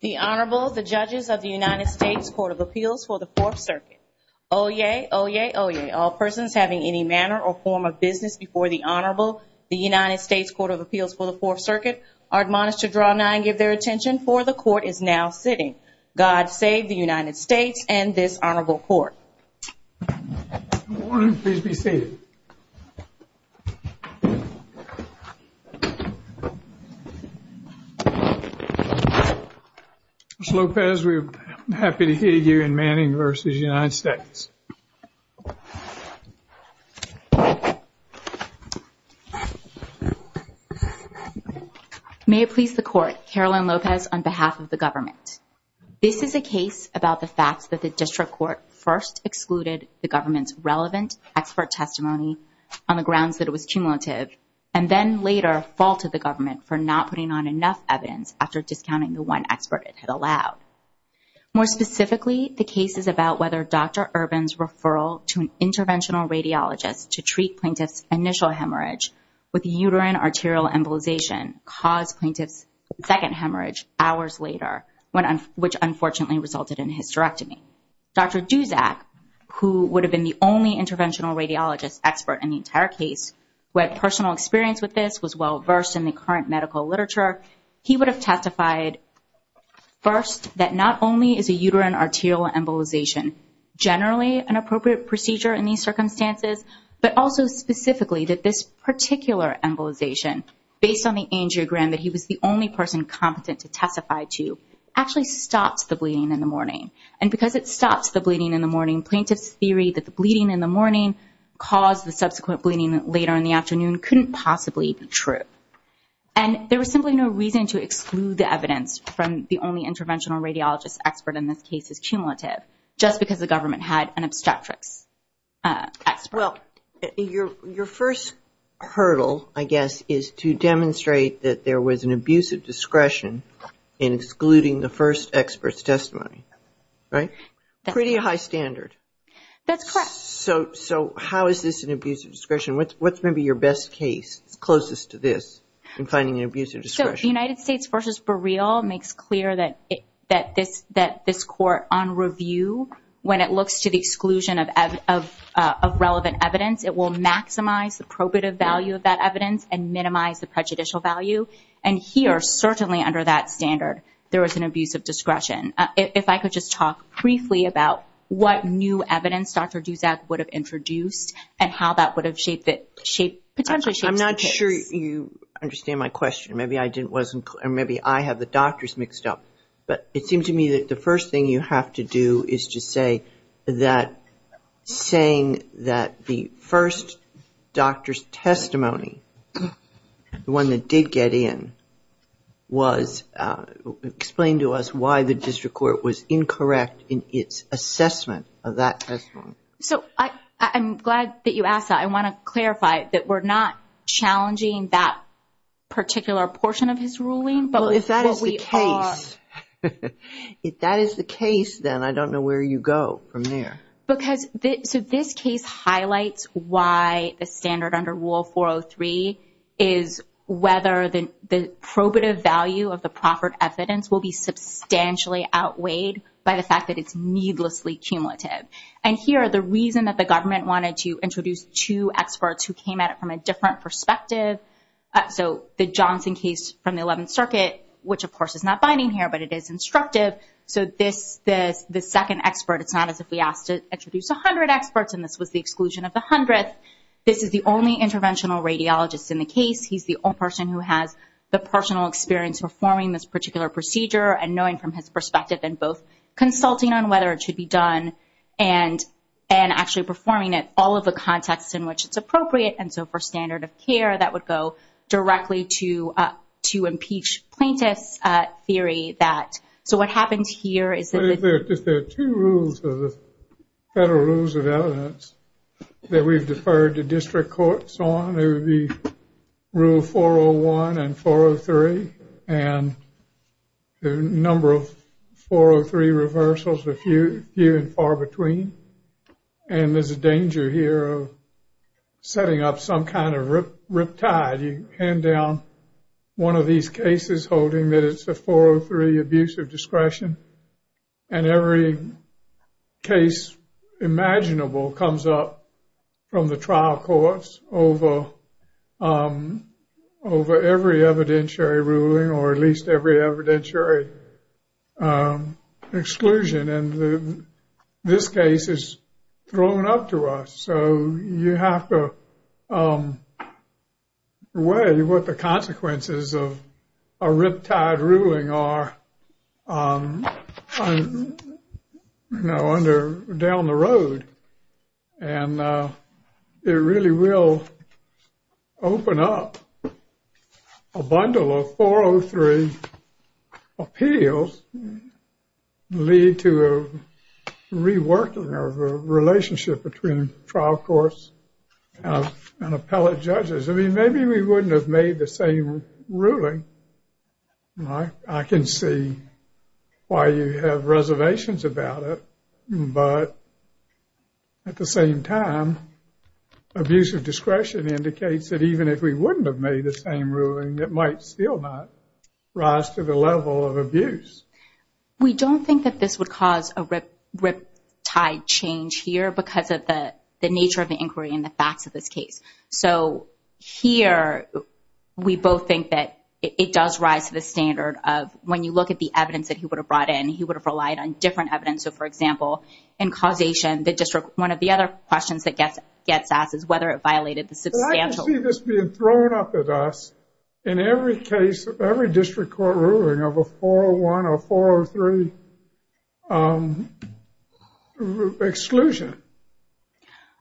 The Honorable, the judges of the United States Court of Appeals for the Fourth Circuit. Oyez, oyez, oyez, all persons having any manner or form of business before the Honorable, the United States Court of Appeals for the Fourth Circuit, are admonished to draw nigh and give their attention, for the Court is now sitting. God save the United States and this Honorable Court. Good morning, please be seated. Ms. Lopez, we're happy to hear you in Manning v. United States. May it please the Court, Carolyn Lopez on behalf of the government. This is a case about the fact that the district court first excluded the government's relevant expert testimony on the grounds that it was cumulative and then later faulted the government for not putting on enough evidence after discounting the one expert it had allowed. More specifically, the case is about whether Dr. Urban's referral to an interventional radiologist to treat plaintiff's initial hemorrhage with uterine arterial embolization caused plaintiff's second hemorrhage hours later, which unfortunately resulted in a hysterectomy. Dr. Duzak, who would have been the only interventional radiologist expert in the entire case, who had personal experience with this, was well versed in the current medical literature. He would have testified first that not only is a uterine arterial embolization generally an appropriate procedure in these circumstances, but also specifically that this particular embolization, based on the angiogram that he was the only person competent to testify to, actually stops the bleeding in the morning. And because it stops the bleeding in the morning, plaintiff's theory that the bleeding in the morning caused the subsequent bleeding later in the afternoon couldn't possibly be true. And there was simply no reason to exclude the evidence from the only interventional radiologist expert in this case's cumulative, just because the government had an obstetrics expert. Well, your first hurdle, I guess, is to demonstrate that there was an abuse of discretion in excluding the first expert's testimony, right? Pretty high standard. That's correct. So how is this an abuse of discretion? What's maybe your best case closest to this in finding an abuse of discretion? The United States v. Bereal makes clear that this court, on review, when it looks to the exclusion of relevant evidence, it will maximize the probative value of that evidence and minimize the prejudicial value. And here, certainly under that standard, there was an abuse of discretion. If I could just talk briefly about what new evidence Dr. Dusak would have introduced and how that would have potentially shaped the case. I'm not sure you understand my question. Maybe I have the doctors mixed up. But it seems to me that the first thing you have to do is to say that saying that the first doctor's testimony, the one that did get in, was explained to us why the district court was incorrect in its assessment of that testimony. So I'm glad that you asked that. I want to clarify that we're not challenging that particular portion of his ruling. Well, if that is the case, then I don't know where you go from there. So this case highlights why the standard under Rule 403 is whether the probative value of the proffered evidence will be substantially outweighed by the fact that it's needlessly cumulative. And here, the reason that the government wanted to introduce two experts who came at it from a different perspective. So the Johnson case from the 11th Circuit, which of course is not binding here, but it is instructive. So this second expert, it's not as if we asked to introduce 100 experts and this was the exclusion of the 100th. This is the only interventional radiologist in the case. He's the only person who has the personal experience performing this particular procedure and knowing from his perspective and both consulting on whether it should be done and actually performing it all of the contexts in which it's appropriate. And so for standard of care, that would go directly to impeach plaintiff's theory. So what happens here is that if there are two rules of the federal rules of evidence that we've deferred to district courts on, it would be rule 401 and 403 and the number of 403 reversals are few and far between. And there's a danger here of setting up some kind of riptide. You hand down one of these cases holding that it's a 403 abuse of discretion and every case imaginable comes up from the trial courts over every evidentiary ruling or at least every evidentiary exclusion. And this case is thrown up to us. So you have to weigh what the consequences of a riptide ruling are down the road. And it really will open up a bundle of 403 appeals lead to a reworking of the relationship between trial courts and appellate judges. I mean, maybe we wouldn't have made the same ruling. I can see why you have reservations about it. But at the same time, abuse of discretion indicates that even if we wouldn't have made the same ruling, it might still not rise to the level of abuse. We don't think that this would cause a riptide change here because of the nature of the inquiry and the facts of this case. So here, we both think that it does rise to the standard of when you look at the evidence that he would have brought in, he would have relied on different evidence. So, for example, in causation, one of the other questions that gets asked is whether it violated the substantial. I can see this being thrown up at us in every case, every district court ruling of a 401 or 403 exclusion.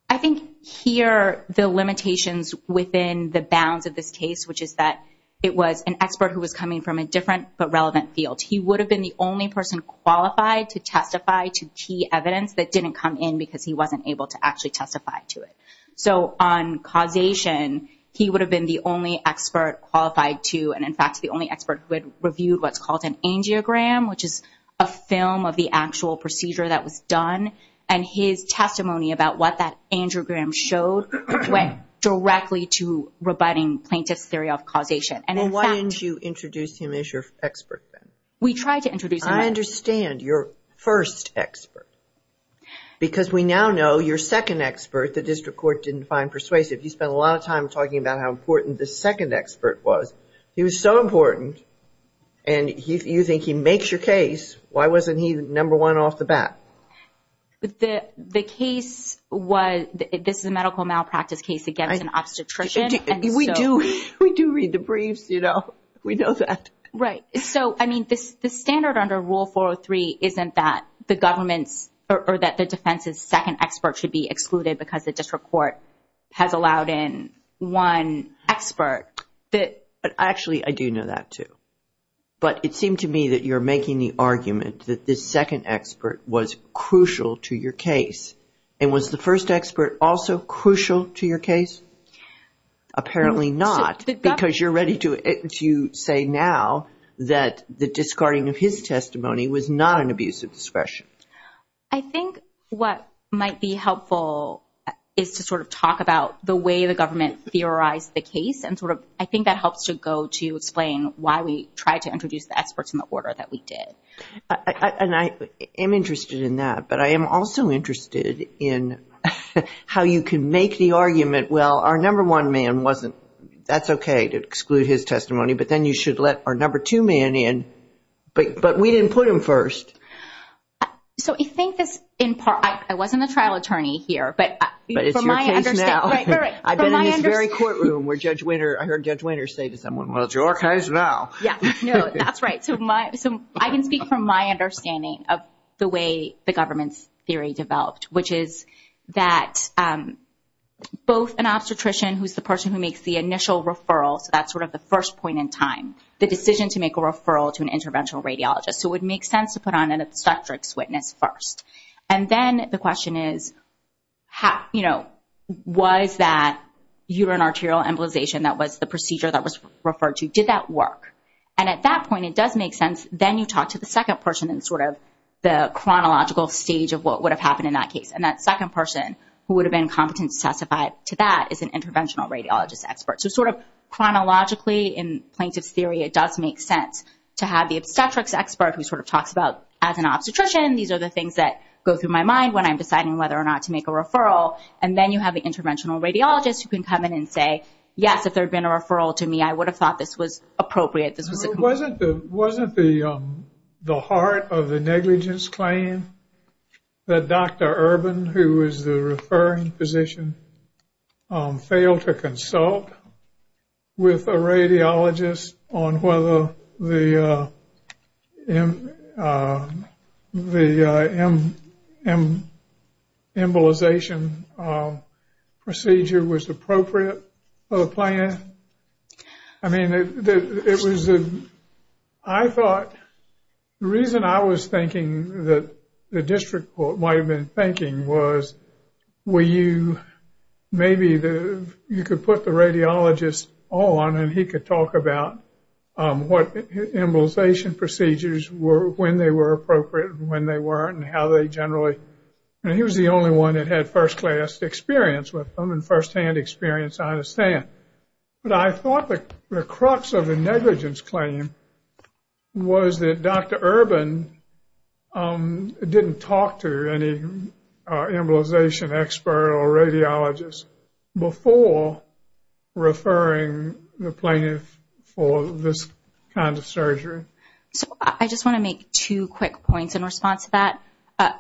I think here, the limitations within the bounds of this case, which is that it was an expert who was coming from a different but relevant field. He would have been the only person qualified to testify to key evidence that didn't come in because he wasn't able to actually testify to it. So on causation, he would have been the only expert qualified to, and in fact, the only expert who had reviewed what's called an angiogram, which is a film of the actual procedure that was done. And his testimony about what that angiogram showed went directly to rebutting plaintiff's theory of causation. And in fact- Well, why didn't you introduce him as your expert then? We tried to introduce him- I understand, your first expert. Because we now know your second expert, the district court didn't find persuasive. You spent a lot of time talking about how important the second expert was. He was so important. And you think he makes your case. Why wasn't he number one off the bat? The case was, this is a medical malpractice case against an obstetrician. We do read the briefs, you know. We know that. Right. So, I mean, the standard under Rule 403 isn't that the government's, or that the defense's second expert should be excluded because the district court has allowed in one expert. Actually, I do know that too. But it seemed to me that you're making the argument that the second expert was crucial to your case. And was the first expert also crucial to your case? Apparently not. Because you're ready to say now that the discarding of his testimony was not an abuse of discretion. I think what might be helpful is to sort of talk about the way the government theorized the case. And sort of, I think that helps to go to explain why we tried to introduce the experts in the order that we did. And I am interested in that. But I am also interested in how you can make the argument, well, our number one man wasn't, that's okay to exclude his testimony. But then you should let our number two man in. But we didn't put him first. So I think this, in part, I wasn't a trial attorney here. But it's your case now. I've been in this very courtroom where Judge Wiener, I heard Judge Wiener say to someone, well, it's your case now. Yeah, no, that's right. So I can speak from my understanding of the way the government's theory developed. Which is that both an obstetrician, who's the person who makes the initial referral, so that's sort of the first point in time. The decision to make a referral to an interventional radiologist. So it would make sense to put on an obstetrics witness first. And then the question is, was that uterine arterial embolization that was the procedure that was referred to, did that work? And at that point, it does make sense. Then you talk to the second person in sort of the chronological stage of what would have happened in that case. And that second person, who would have been competent to testify to that, is an interventional radiologist expert. So sort of chronologically, in plaintiff's theory, it does make sense to have the obstetrics expert, who sort of talks about, as an obstetrician, these are the things that go through my mind when I'm deciding whether or not to make a referral. And then you have the interventional radiologist who can come in and say, yes, if there had been a referral to me, I would have thought this was appropriate. Wasn't the heart of the negligence claim that Dr. Urban, who was the referring physician, failed to consult with a radiologist on whether the embolization procedure was appropriate for the plaintiff? I mean, it was a, I thought, the reason I was thinking that the district court might have been thinking was, were you, maybe you could put the radiologist on and he could talk about what embolization procedures were, when they were appropriate, when they weren't, and how they generally, and he was the only one that had first-class experience with them and first-hand experience, I understand. But I thought the crux of the negligence claim was that Dr. Urban didn't talk to any embolization expert or radiologist before referring the plaintiff for this kind of surgery. So I just want to make two quick points in response to that.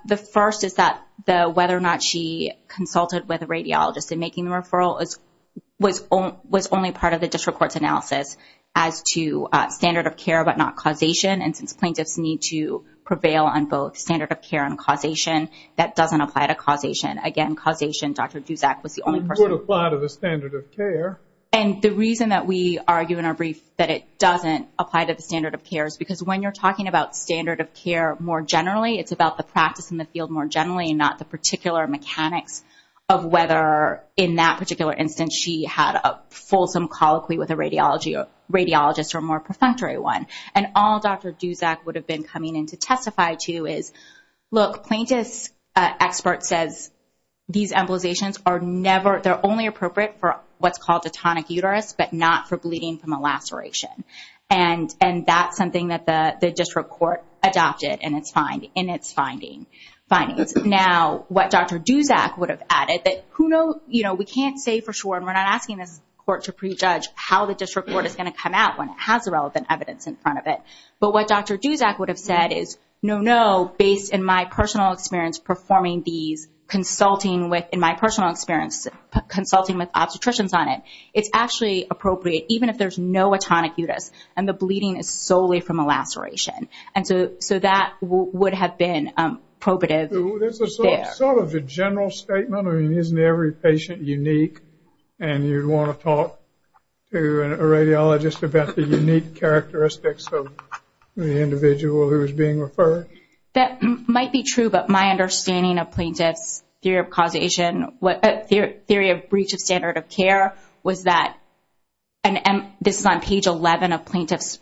The first is that the whether or not she consulted with a radiologist in making the referral was only part of the district court's analysis as to standard of care but not causation. And since plaintiffs need to prevail on both standard of care and causation, that doesn't apply to causation. Again, causation, Dr. Duszak was the only person. It would apply to the standard of care. And the reason that we argue in our brief that it doesn't apply to the standard of care is because when you're talking about the standard of care more generally, it's about the practice in the field more generally, not the particular mechanics of whether in that particular instance she had a fulsome colloquy with a radiologist or a more perfunctory one. And all Dr. Duszak would have been coming in to testify to is, look, plaintiff's expert says these embolizations are never, they're only appropriate for what's called a tonic uterus but not for bleeding from a laceration. And that's something that the district court adopted in its findings. Now, what Dr. Duszak would have added that, you know, we can't say for sure, and we're not asking this court to prejudge how the district court is going to come out when it has the relevant evidence in front of it. But what Dr. Duszak would have said is, no, no, based in my personal experience performing these, consulting with, in my personal experience, consulting with obstetricians on it, it's actually appropriate even if there's no a tonic uterus and the bleeding is solely from a laceration. And so that would have been probative there. Sort of a general statement. I mean, isn't every patient unique? And you'd want to talk to a radiologist about the unique characteristics of the individual who is being referred? That might be true, but my understanding of plaintiff's theory of causation, theory of breach of standard of care was that, and this is on page 11 of plaintiff's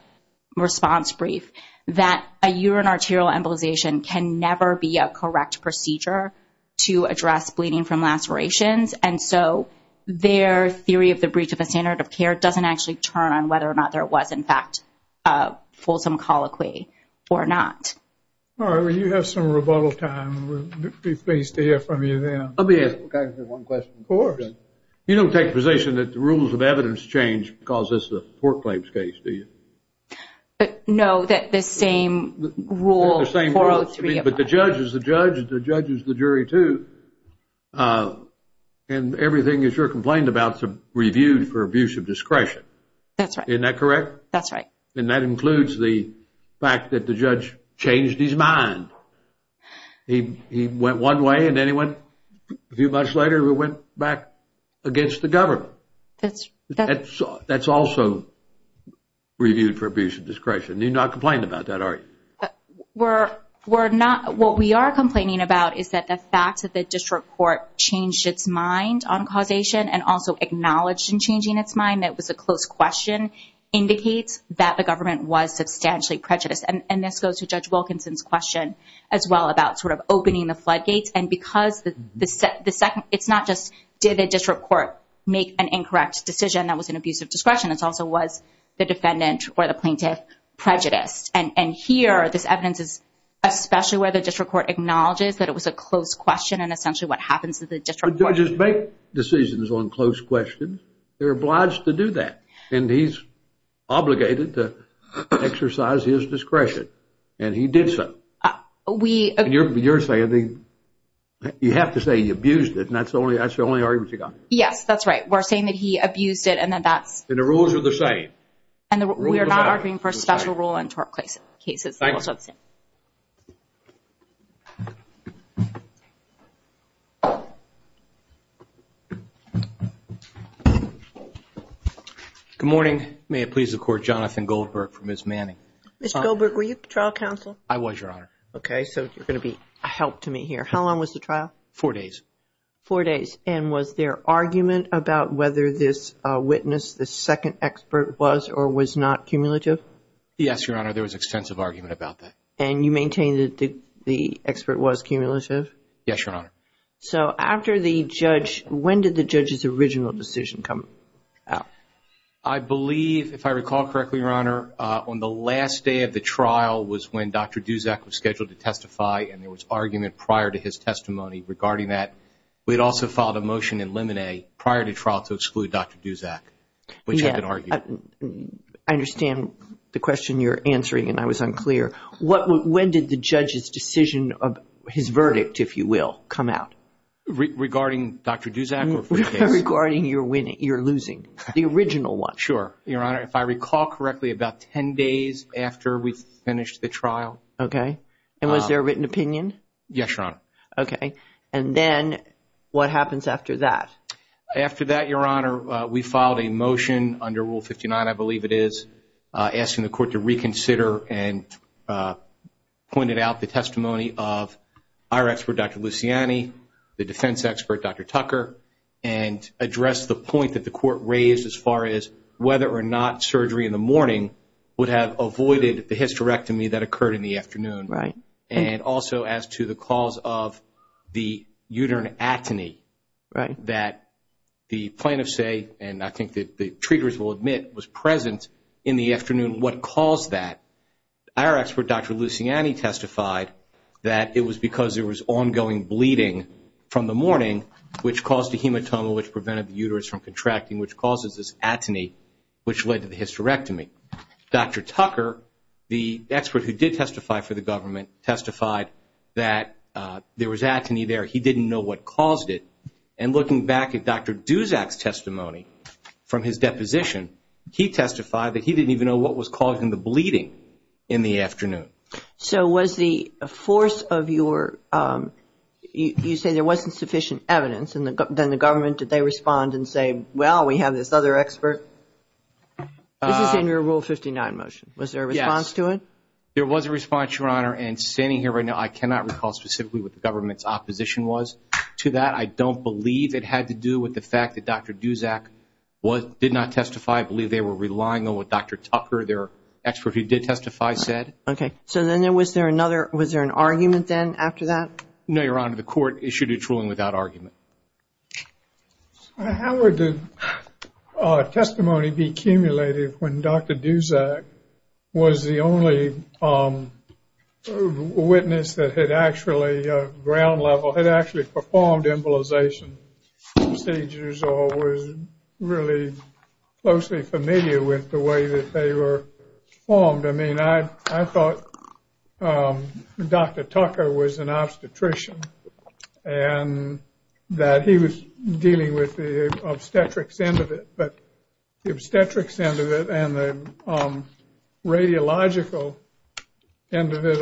response brief, that a urinary arterial embolization can never be a correct procedure to address bleeding from lacerations. And so their theory of the breach of the standard of care doesn't actually turn on whether or not there was, in fact, a fulsome colloquy or not. All right. Well, you have some rebuttal time. We'll be pleased to hear from you then. I'll be asking one question. Of course. You don't take the position that the rules of evidence change because it's a foreclaims case, do you? No, that the same rule, 403. But the judge is the judge, and the judge is the jury, too. And everything that you're complaining about is reviewed for abuse of discretion. That's right. Isn't that correct? That's right. And that includes the fact that the judge changed his mind. He went one way, and then he went, a few months later, he went back against the government. That's also reviewed for abuse of discretion. You're not complaining about that, are you? We're not. What we are complaining about is that the fact that the district court changed its mind on causation and also acknowledged in changing its mind that it was a close question indicates that the government was substantially prejudiced. And this goes to Judge Wilkinson's question as well about sort of opening the floodgates. And because it's not just did the district court make an incorrect decision that was an abuse of discretion, it also was the defendant or the plaintiff prejudiced. And here, this evidence is especially where the district court acknowledges that it was a close question and essentially what happens to the district court. Judges make decisions on close questions. They're obliged to do that. And he's obligated to exercise his discretion, and he did so. You're saying that you have to say he abused it, and that's the only argument you got? Yes, that's right. We're saying that he abused it, and then that's... And the rules are the same. And we are not arguing for special rule in tort cases. Good morning. May it please the Court, Jonathan Goldberg for Ms. Manning. Mr. Goldberg, were you trial counsel? I was, Your Honor. Okay, so you're going to be a help to me here. How long was the trial? Four days. Four days. And was there argument about whether this witness, this second expert, was or was not cumulative? Yes, Your Honor, there was extensive argument about that. And you maintain that the expert was cumulative? Yes, Your Honor. So after the judge, when did the judge's original decision come out? I believe, if I recall correctly, Your Honor, on the last day of the trial was when Dr. Duzak was scheduled to testify, and there was argument prior to his testimony regarding that. We had also filed a motion in limine prior to trial to exclude Dr. Duzak, which had been argued. I understand the question you're answering, and I was unclear. When did the judge's decision of his verdict, if you will, come out? Regarding Dr. Duzak? Regarding your losing, the original one. Sure, Your Honor. If I recall correctly, about 10 days after we finished the trial. Okay. And was there a written opinion? Yes, Your Honor. Okay. And then what happens after that? After that, Your Honor, we filed a motion under Rule 59, I believe it is, asking the court to reconsider and pointed out the testimony of our expert, Dr. Luciani, the defense expert, Dr. Tucker, and addressed the point that the court raised as far as whether or not surgery in the morning would have avoided the hysterectomy that occurred in the afternoon. Right. And also as to the cause of the uterine atony that the plaintiff say, and I think that the treaters will admit, was present in the afternoon. What caused that? Our expert, Dr. Luciani, testified that it was because there was ongoing bleeding from the morning, which caused the hematoma, which prevented the uterus from contracting, which causes this atony, which led to the hysterectomy. Dr. Tucker, the expert who did testify for the government, testified that there was atony there. He didn't know what caused it. And looking back at Dr. Duzak's testimony from his deposition, he testified that he didn't even know what was causing the bleeding in the afternoon. So was the force of your, you say there wasn't sufficient evidence, and then the government, did they respond and say, well, we have this other expert? This is in your Rule 59 motion. Was there a response to it? Yes. There was a response, Your Honor, and standing here right now, I cannot recall specifically what the government's opposition was to that. I don't believe it had to do with the fact that Dr. Duzak did not testify. I believe they were relying on what Dr. Tucker, their expert who did testify, said. Okay. So then was there another, was there an argument then after that? No, Your Honor. The court issued its ruling without argument. How would the testimony be cumulative when Dr. Duzak was the only witness that had actually ground level, had actually performed embolization procedures or was really closely familiar with the way that they were formed? I mean, I thought Dr. Tucker was an obstetrician, and that he was dealing with the obstetrics end of it, but the obstetrics end of it and the radiological end of it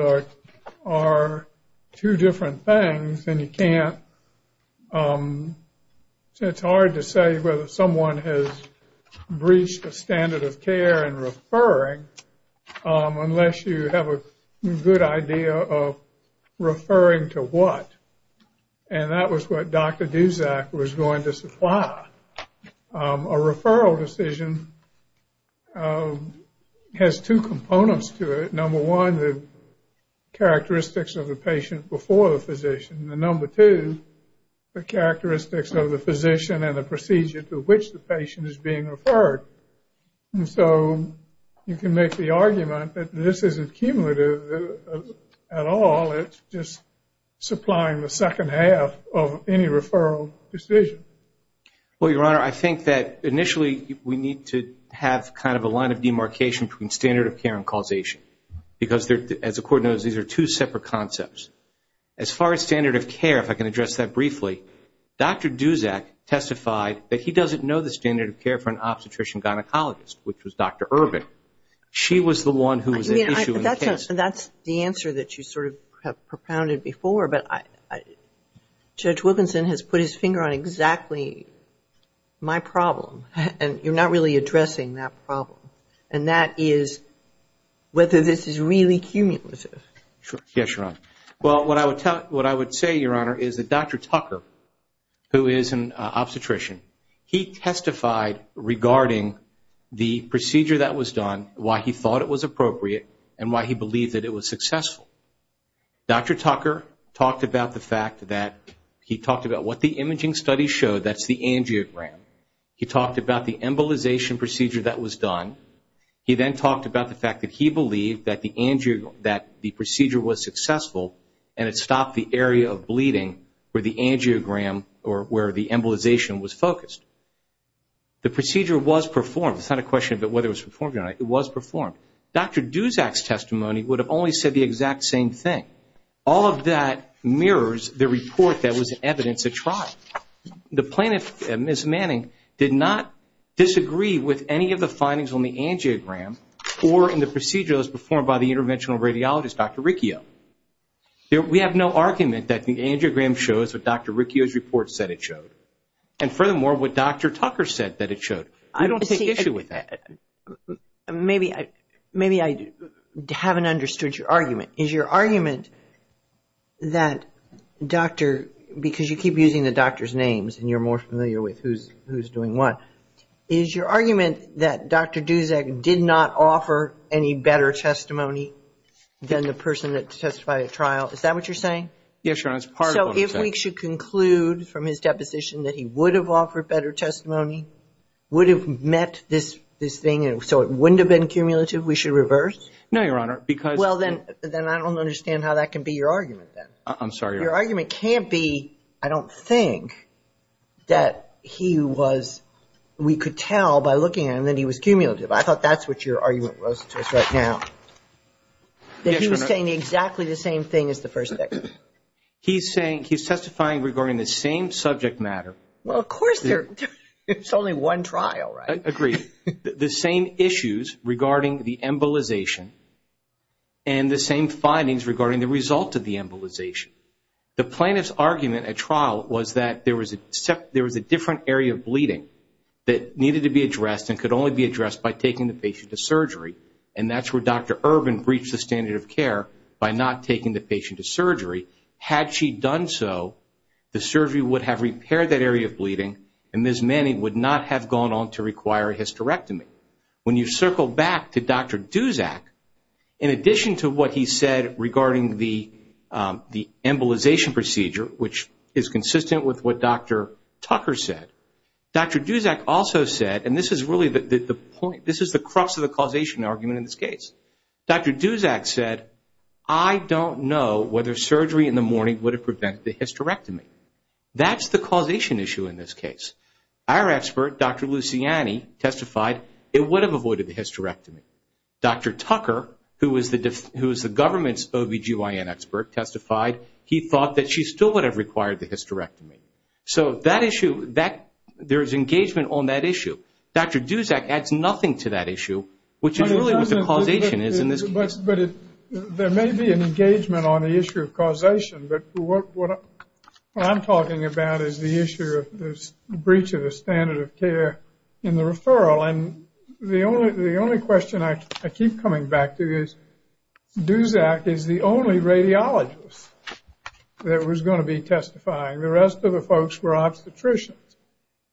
are two different things, and you can't, it's hard to say whether someone has breached the standard of care and referring unless you have a good idea of referring to what, and that was what Dr. Duzak was going to supply. A referral decision has two components to it. Number one, the characteristics of the patient before the physician, and number two, the characteristics of the physician and the procedure to which the patient is being referred. And so you can make the argument that this isn't cumulative at all, it's just supplying the second half of any referral decision. Well, Your Honor, I think that initially we need to have kind of a line of demarcation between standard of care and causation because, as the court knows, these are two separate concepts. As far as standard of care, if I can address that briefly, Dr. Duzak testified that he doesn't know the standard of care for an obstetrician-gynecologist, which was Dr. Urban. She was the one who was at issue in the case. That's the answer that you sort of have propounded before, but Judge Wilkinson has put his finger on exactly my problem, and you're not really addressing that problem, Yes, Your Honor. Well, what I would say, Your Honor, is that Dr. Tucker, who is an obstetrician, he testified regarding the procedure that was done, why he thought it was appropriate, and why he believed that it was successful. Dr. Tucker talked about the fact that he talked about what the imaging studies showed, that's the angiogram. He talked about the embolization procedure that was done. He then talked about the fact that he believed that the procedure was successful and it stopped the area of bleeding where the angiogram or where the embolization was focused. The procedure was performed. It's not a question about whether it was performed or not. It was performed. Dr. Duzak's testimony would have only said the exact same thing. All of that mirrors the report that was in evidence at trial. The plaintiff, Ms. Manning, did not disagree with any of the findings on the angiogram or in the procedures performed by the interventional radiologist, Dr. Riccio. We have no argument that the angiogram shows what Dr. Riccio's report said it showed, and furthermore, what Dr. Tucker said that it showed. We don't take issue with that. Maybe I haven't understood your argument. Is your argument that Dr. – because you keep using the doctor's names and you're more familiar with who's doing what. Is your argument that Dr. Duzak did not offer any better testimony than the person that testified at trial? Is that what you're saying? Yes, Your Honor. It's part of what I'm saying. So if we should conclude from his deposition that he would have offered better testimony, would have met this thing so it wouldn't have been cumulative, we should reverse? No, Your Honor. Well, then I don't understand how that can be your argument then. I'm sorry, Your Honor. Your argument can't be, I don't think, that he was – we could tell by looking at him that he was cumulative. I thought that's what your argument was to us right now. Yes, Your Honor. That he was saying exactly the same thing as the first victim. He's saying – he's testifying regarding the same subject matter. Well, of course there's only one trial, right? Agreed. The same issues regarding the embolization and the same findings regarding the result of the embolization. The plaintiff's argument at trial was that there was a different area of bleeding that needed to be addressed and could only be addressed by taking the patient to surgery, and that's where Dr. Urban breached the standard of care by not taking the patient to surgery. Had she done so, the surgery would have repaired that area of bleeding, and Ms. Manning would not have gone on to require a hysterectomy. When you circle back to Dr. Duszak, in addition to what he said regarding the embolization procedure, which is consistent with what Dr. Tucker said, Dr. Duszak also said – and this is really the point, this is the crux of the causation argument in this case – Dr. Duszak said, I don't know whether surgery in the morning would have prevented the hysterectomy. That's the causation issue in this case. Our expert, Dr. Luciani, testified it would have avoided the hysterectomy. Dr. Tucker, who is the government's OBGYN expert, testified he thought that she still would have required the hysterectomy. So that issue, there is engagement on that issue. Dr. Duszak adds nothing to that issue, which is really what the causation is in this case. There may be an engagement on the issue of causation, but what I'm talking about is the issue of the breach of the standard of care in the referral. And the only question I keep coming back to is, Duszak is the only radiologist that was going to be testifying. The rest of the folks were obstetricians.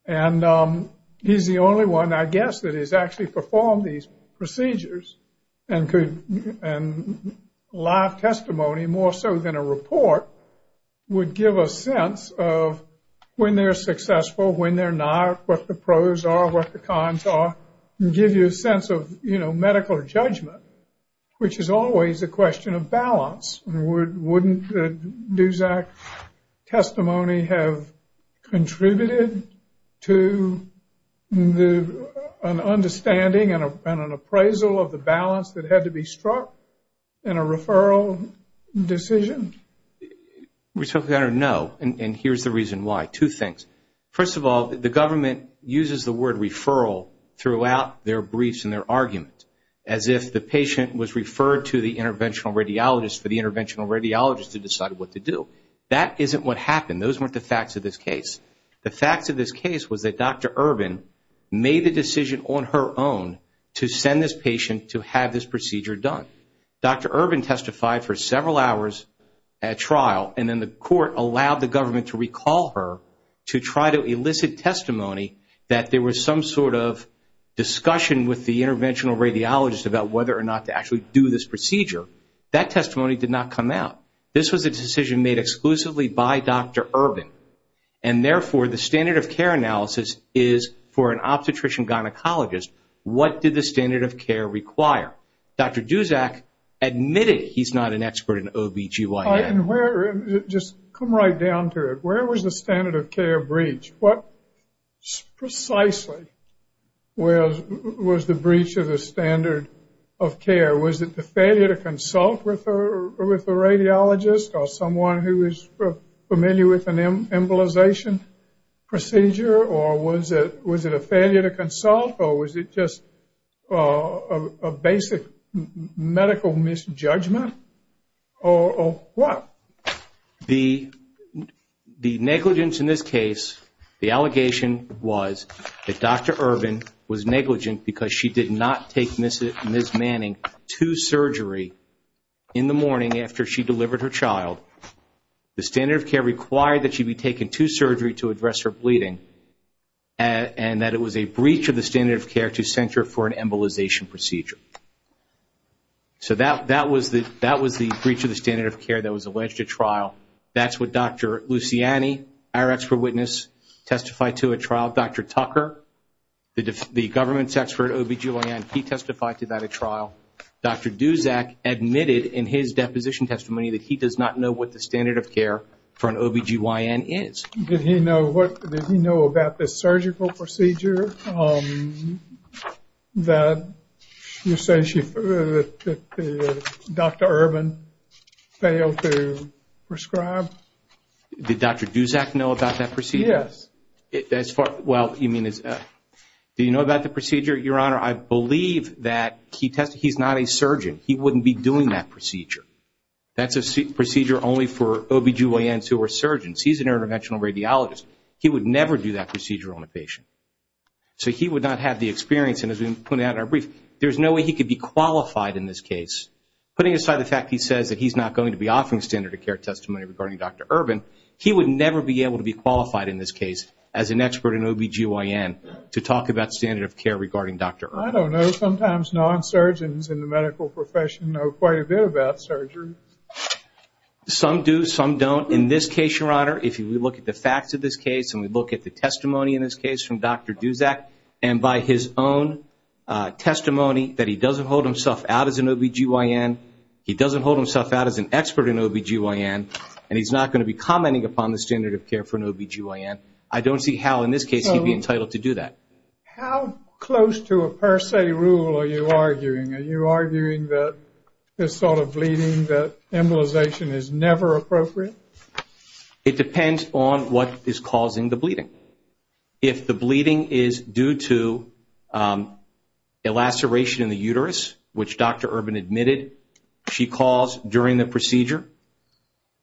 And he's the only one, I guess, that has actually performed these procedures and live testimony, more so than a report, would give a sense of when they're successful, when they're not, what the pros are, what the cons are, and give you a sense of medical judgment, Wouldn't Duszak's testimony have contributed to an understanding and an appraisal of the balance that had to be struck in a referral decision? No, and here's the reason why. Two things. First of all, the government uses the word referral throughout their briefs and their arguments, as if the patient was referred to the interventional radiologist for the interventional radiologist to decide what to do. That isn't what happened. Those weren't the facts of this case. The facts of this case was that Dr. Urban made the decision on her own to send this patient to have this procedure done. Dr. Urban testified for several hours at trial, and then the court allowed the government to recall her to try to elicit testimony that there was some sort of discussion with the interventional radiologist about whether or not to actually do this procedure. That testimony did not come out. This was a decision made exclusively by Dr. Urban, and, therefore, the standard of care analysis is for an obstetrician-gynecologist. What did the standard of care require? Dr. Duszak admitted he's not an expert in OBGYN. Just come right down to it. Where was the standard of care breached? What precisely was the breach of the standard of care? Was it the failure to consult with a radiologist or someone who is familiar with an embolization procedure, or was it a failure to consult, or was it just a basic medical misjudgment, or what? The negligence in this case, the allegation was that Dr. Urban was negligent because she did not take Ms. Manning to surgery in the morning after she delivered her child. The standard of care required that she be taken to surgery to address her bleeding, and that it was a breach of the standard of care to send her for an embolization procedure. So that was the breach of the standard of care that was alleged at trial. That's what Dr. Luciani, our expert witness, testified to at trial. Dr. Tucker, the government's expert OBGYN, he testified to that at trial. Dr. Duszak admitted in his deposition testimony that he does not know what the standard of care for an OBGYN is. Did he know about the surgical procedure that Dr. Urban failed to prescribe? Did Dr. Duszak know about that procedure? Yes. Do you know about the procedure, Your Honor? I believe that he's not a surgeon. He wouldn't be doing that procedure. That's a procedure only for OBGYNs who are surgeons. He's an interventional radiologist. He would never do that procedure on a patient. So he would not have the experience, and as we pointed out in our brief, there's no way he could be qualified in this case. Putting aside the fact he says that he's not going to be offering standard of care testimony regarding Dr. Urban, he would never be able to be qualified in this case as an expert in OBGYN to talk about standard of care regarding Dr. Urban. I don't know. Sometimes non-surgeons in the medical profession know quite a bit about surgery. Some do, some don't. In this case, Your Honor, if we look at the facts of this case and we look at the testimony in this case from Dr. Duszak, and by his own testimony that he doesn't hold himself out as an OBGYN, he doesn't hold himself out as an expert in OBGYN, and he's not going to be commenting upon the standard of care for an OBGYN, I don't see how in this case he'd be entitled to do that. How close to a per se rule are you arguing? Are you arguing that this sort of bleeding, that embolization is never appropriate? It depends on what is causing the bleeding. If the bleeding is due to a laceration in the uterus, which Dr. Urban admitted she caused during the procedure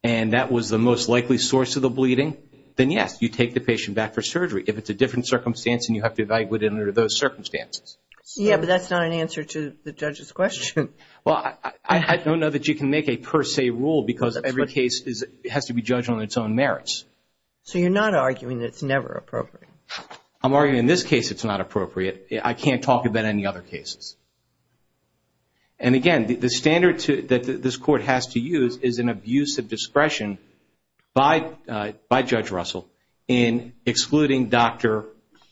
and that was the most likely source of the bleeding, then, yes, you take the patient back for surgery if it's a different circumstance and you have to evaluate it under those circumstances. Yes, but that's not an answer to the judge's question. Well, I don't know that you can make a per se rule because every case has to be judged on its own merits. So you're not arguing that it's never appropriate? I'm arguing in this case it's not appropriate. I can't talk about any other cases. And, again, the standard that this Court has to use is an abuse of discretion by Judge Russell in excluding Dr.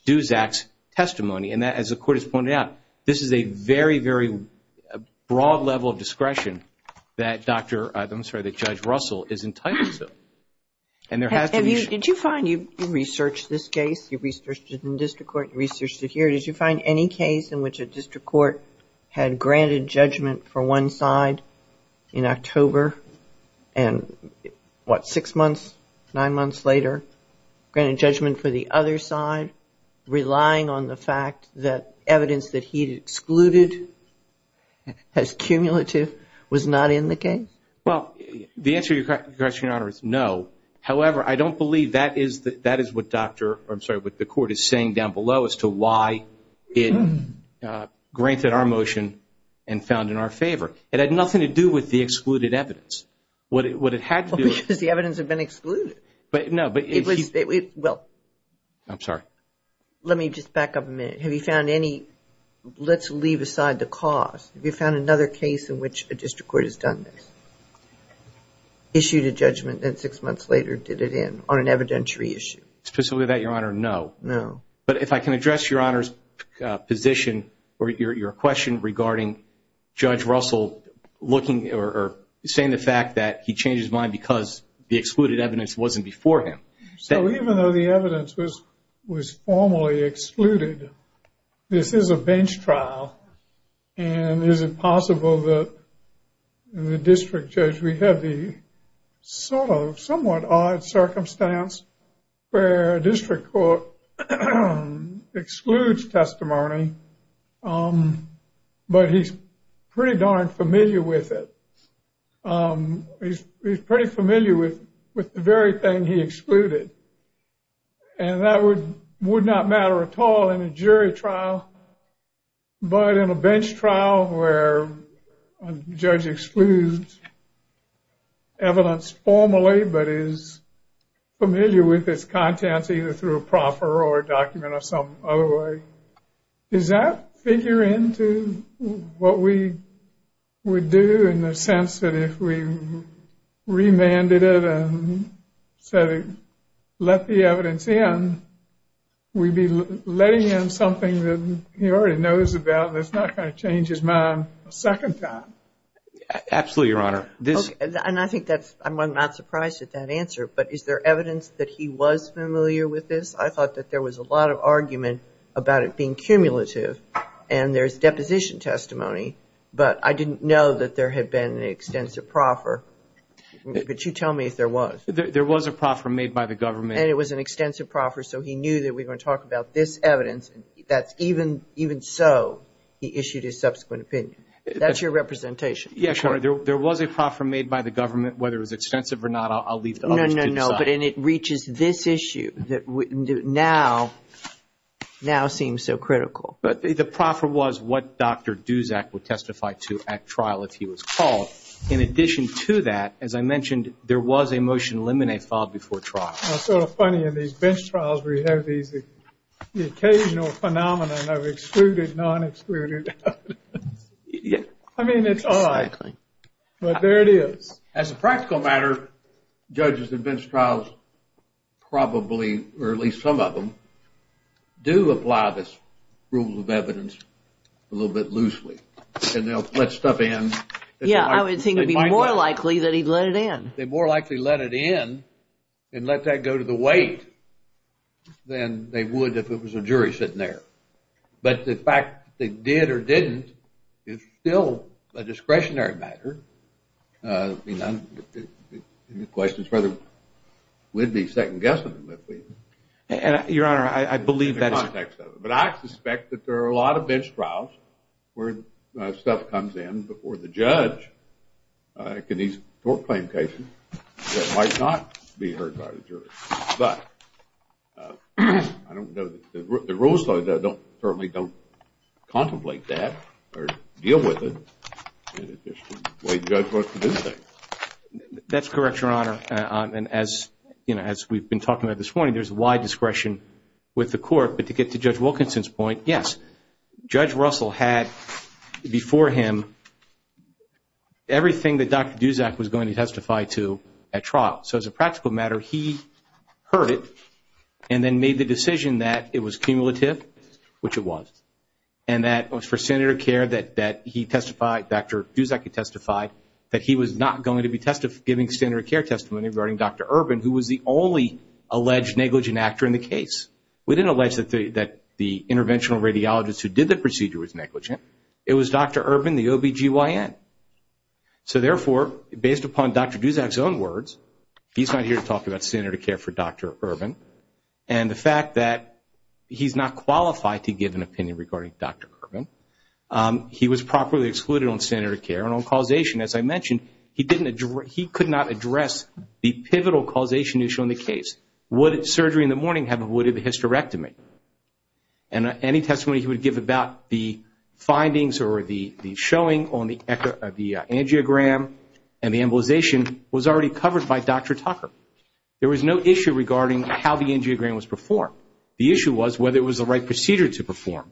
Duzak's testimony. And as the Court has pointed out, this is a very, very broad level of discretion that Judge Russell is entitled to. Did you find, you researched this case, you researched it in district court, you researched it here, did you find any case in which a district court had granted judgment for one side in October and, what, six months, nine months later, granted judgment for the other side, relying on the fact that evidence that he'd excluded as cumulative was not in the case? Well, the answer to your question, Your Honor, is no. However, I don't believe that is what the Court is saying down below as to why it granted our motion and found in our favor. It had nothing to do with the excluded evidence. What it had to do with – Well, because the evidence had been excluded. No, but – Well – I'm sorry. Let me just back up a minute. Have you found any – let's leave aside the cause. Have you found another case in which a district court has done this, issued a judgment and six months later did it in on an evidentiary issue? Specifically that, Your Honor, no. No. But if I can address Your Honor's position or your question regarding Judge Russell looking or saying the fact that he changed his mind because the excluded evidence wasn't before him. So even though the evidence was formally excluded, this is a bench trial, and is it possible that the district judge would have the sort of somewhat odd circumstance where a district court excludes testimony but he's pretty darn familiar with it? He's pretty familiar with the very thing he excluded, and that would not matter at all in a jury trial. But in a bench trial where a judge excludes evidence formally but is familiar with its contents either through a proffer or a document or some other way, does that figure into what we would do in the sense that if we remanded it and said let the evidence in, we'd be letting in something that he already knows about and it's not going to change his mind a second time? Absolutely, Your Honor. And I think that's, I'm not surprised at that answer, but is there evidence that he was familiar with this? I thought that there was a lot of argument about it being cumulative and there's deposition testimony, but I didn't know that there had been an extensive proffer. But you tell me if there was. There was a proffer made by the government. And it was an extensive proffer, so he knew that we were going to talk about this evidence. That's even so, he issued his subsequent opinion. That's your representation. Yes, Your Honor. There was a proffer made by the government. Whether it was extensive or not, I'll leave to others to decide. No, no, no. But it reaches this issue that now seems so critical. The proffer was what Dr. Duzak would testify to at trial if he was called. In addition to that, as I mentioned, there was a motion to eliminate filed before trial. It's sort of funny. In these bench trials, we have these occasional phenomenon of excluded, non-excluded evidence. I mean, it's all right. But there it is. As a practical matter, judges in bench trials probably, or at least some of them, do apply this rule of evidence a little bit loosely. And they'll let stuff in. Yeah, I would think it would be more likely that he'd let it in. They'd more likely let it in and let that go to the weight than they would if it was a jury sitting there. But the fact that they did or didn't is still a discretionary matter. I mean, the question is whether we'd be second-guessing them if we were. Your Honor, I believe that's correct. But I suspect that there are a lot of bench trials where stuff comes in before the judge. In these tort claim cases, it might not be heard by the jury. But I don't know that the rules certainly don't contemplate that or deal with it in the way the judge wants to do things. That's correct, Your Honor. And as we've been talking about this morning, there's wide discretion with the court. But to get to Judge Wilkinson's point, yes, Judge Russell had before him everything that Dr. Duzak was going to testify to at trial. So as a practical matter, he heard it and then made the decision that it was cumulative, which it was, and that it was for senator care that he testified, Dr. Duzak had testified, that he was not going to be giving senator care testimony regarding Dr. Urban, who was the only alleged negligent actor in the case. We didn't allege that the interventional radiologist who did the procedure was negligent. It was Dr. Urban, the OBGYN. So therefore, based upon Dr. Duzak's own words, he's not here to talk about senator care for Dr. Urban. And the fact that he's not qualified to give an opinion regarding Dr. Urban, he was properly excluded on senator care and on causation. As I mentioned, he could not address the pivotal causation issue in the case. Would surgery in the morning have avoided the hysterectomy? And any testimony he would give about the findings or the showing on the angiogram and the embolization was already covered by Dr. Tucker. There was no issue regarding how the angiogram was performed. The issue was whether it was the right procedure to perform,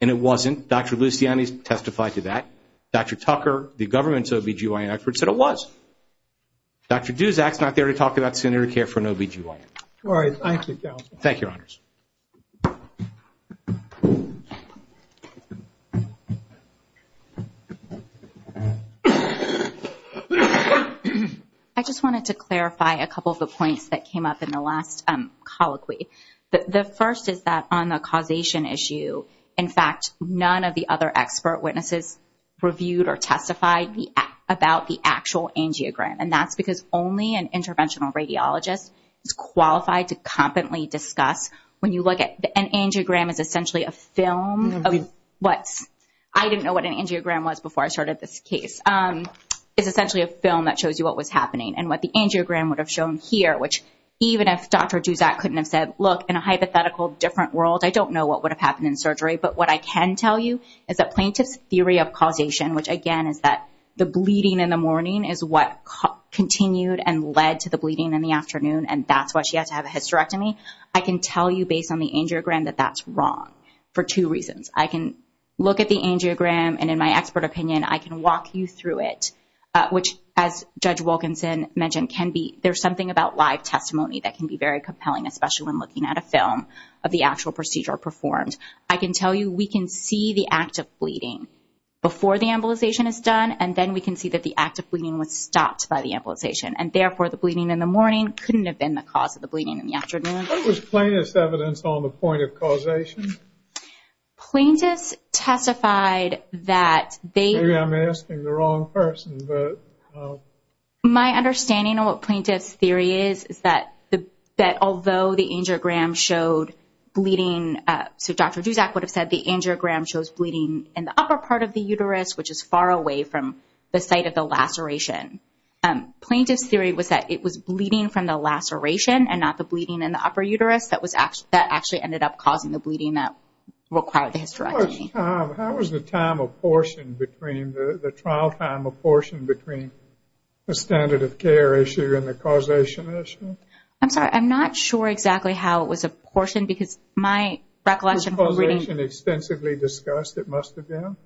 and it wasn't. Dr. Luciani testified to that. Dr. Tucker, the government's OBGYN expert, said it was. Dr. Duzak's not there to talk about senator care for an OBGYN. All right. Thank you, Counsel. Thank you, Your Honors. I just wanted to clarify a couple of the points that came up in the last colloquy. The first is that on the causation issue, in fact, none of the other expert witnesses reviewed or testified about the actual angiogram, and that's because only an interventional radiologist is qualified to competently discuss. An angiogram is essentially a film. I didn't know what an angiogram was before I started this case. It's essentially a film that shows you what was happening and what the angiogram would have shown here, which even if Dr. Duzak couldn't have said, look, in a hypothetical different world, I don't know what would have happened in surgery. But what I can tell you is that plaintiff's theory of causation, which again is that the bleeding in the morning is what continued and led to the bleeding in the afternoon, and that's why she had to have a hysterectomy, I can tell you based on the angiogram that that's wrong for two reasons. I can look at the angiogram, and in my expert opinion, I can walk you through it, which as Judge Wilkinson mentioned, there's something about live testimony that can be very compelling, especially when looking at a film of the actual procedure performed. I can tell you we can see the act of bleeding before the embolization is done, and then we can see that the act of bleeding was stopped by the embolization, and therefore the bleeding in the morning couldn't have been the cause of the bleeding in the afternoon. What was plaintiff's evidence on the point of causation? Plaintiff's testified that they... Maybe I'm asking the wrong person, but... My understanding of what plaintiff's theory is is that although the angiogram showed bleeding, so Dr. Duszak would have said the angiogram shows bleeding in the upper part of the uterus, which is far away from the site of the laceration. Plaintiff's theory was that it was bleeding from the laceration and not the bleeding in the upper uterus that actually ended up causing the bleeding that required the hysterectomy. How was the time apportioned between the trial time apportioned between the standard of care issue and the causation issue? I'm sorry. I'm not sure exactly how it was apportioned because my recollection... Was causation extensively discussed at Mustard Down?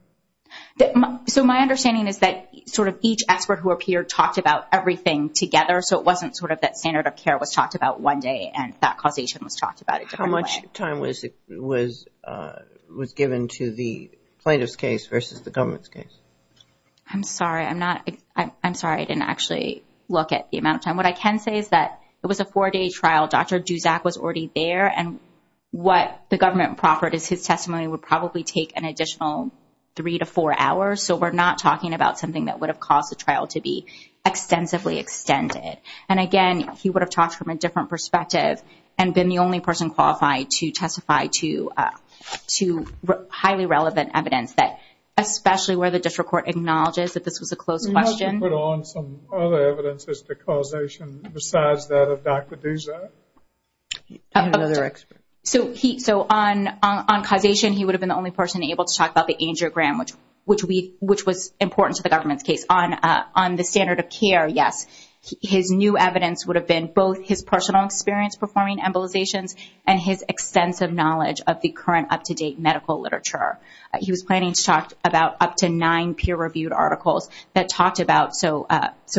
So my understanding is that sort of each expert who appeared talked about everything together, so it wasn't sort of that standard of care was talked about one day and that causation was talked about a different way. How much time was given to the plaintiff's case versus the government's case? I'm sorry. I'm sorry. I didn't actually look at the amount of time. What I can say is that it was a four-day trial. Dr. Duszak was already there, and what the government proffered is his testimony would probably take an additional three to four hours, so we're not talking about something that would have caused the trial to be extensively extended. And, again, he would have talked from a different perspective and been the only person qualified to testify to highly relevant evidence, especially where the district court acknowledges that this was a closed question. Could you put on some other evidence as to causation besides that of Dr. Duszak? So on causation he would have been the only person able to talk about the angiogram, which was important to the government's case. On the standard of care, yes. His new evidence would have been both his personal experience performing embolizations and his extensive knowledge of the current up-to-date medical literature. He was planning to talk about up to nine peer-reviewed articles that talked about, so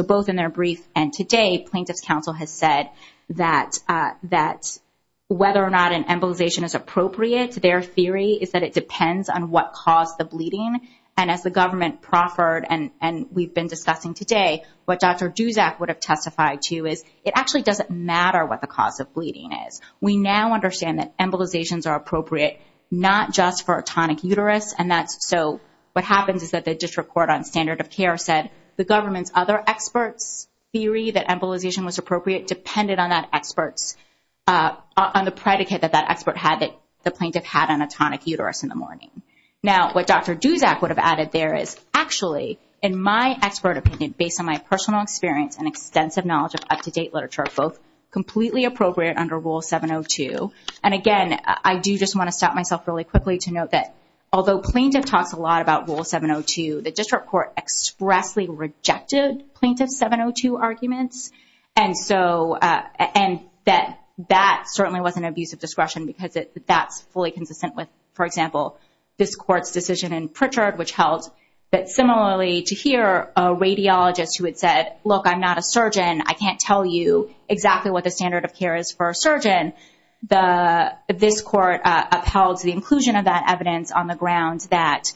both in their brief and today, Plaintiff's Council has said that whether or not an embolization is appropriate, their theory is that it depends on what caused the bleeding. And as the government proffered, and we've been discussing today, what Dr. Duszak would have testified to is it actually doesn't matter what the cause of bleeding is. We now understand that embolizations are appropriate not just for a tonic uterus, and so what happens is that the district court on standard of care said the government's other experts' theory that embolization was appropriate depended on the predicate that that expert had, that the plaintiff had on a tonic uterus in the morning. Now what Dr. Duszak would have added there is actually, in my expert opinion, based on my personal experience and extensive knowledge of up-to-date literature, both completely appropriate under Rule 702. And again, I do just want to stop myself really quickly to note that although Plaintiff talks a lot about Rule 702, the district court expressly rejected Plaintiff's 702 arguments, and that certainly wasn't an abuse of discretion because that's fully consistent with, for example, this court's decision in Pritchard which held that similarly to here, a radiologist who had said, look, I'm not a surgeon, I can't tell you exactly what the standard of care is for a surgeon, this court upheld the inclusion of that evidence on the ground that,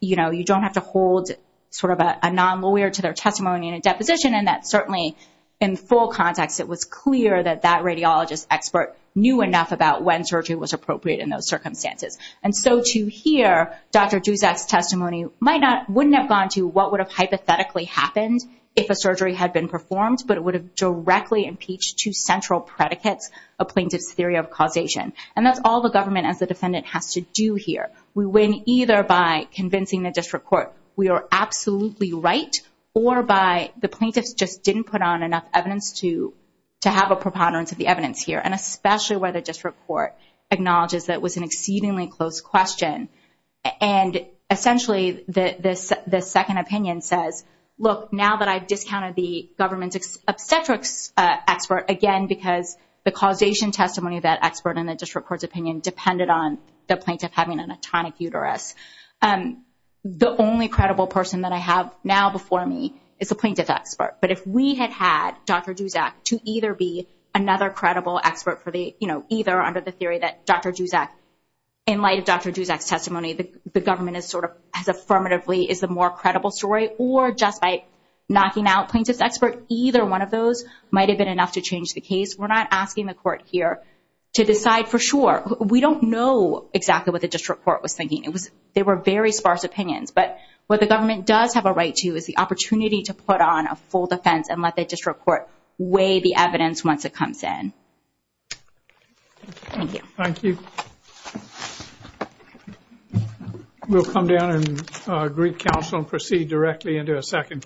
you know, you don't have to hold sort of a non-lawyer to their testimony in a deposition, and that certainly in full context it was clear that that radiologist expert knew enough about when surgery was appropriate in those circumstances. And so to hear Dr. Dusak's testimony wouldn't have gone to what would have hypothetically happened if a surgery had been performed, but it would have directly impeached two central predicates of Plaintiff's theory of causation. And that's all the government as a defendant has to do here. We win either by convincing the district court we are absolutely right, or by the plaintiffs just didn't put on enough evidence to have a preponderance of the evidence here, and especially where the district court acknowledges that it was an exceedingly close question. And essentially the second opinion says, look, now that I've discounted the government's obstetrics expert, again, because the causation testimony of that expert in the district court's opinion depended on the plaintiff having an atonic uterus, the only credible person that I have now before me is the plaintiff expert. But if we had had Dr. Dusak to either be another credible expert for the, you know, either under the theory that Dr. Dusak, in light of Dr. Dusak's testimony, the government is sort of as affirmatively is the more credible story, or just by knocking out plaintiff's expert, either one of those might have been enough to change the case. We're not asking the court here to decide for sure. We don't know exactly what the district court was thinking. They were very sparse opinions. But what the government does have a right to is the opportunity to put on a full defense and let the district court weigh the evidence once it comes in. Thank you. Thank you. We'll come down and greet counsel and proceed directly into a second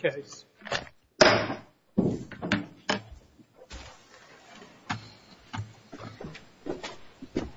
case.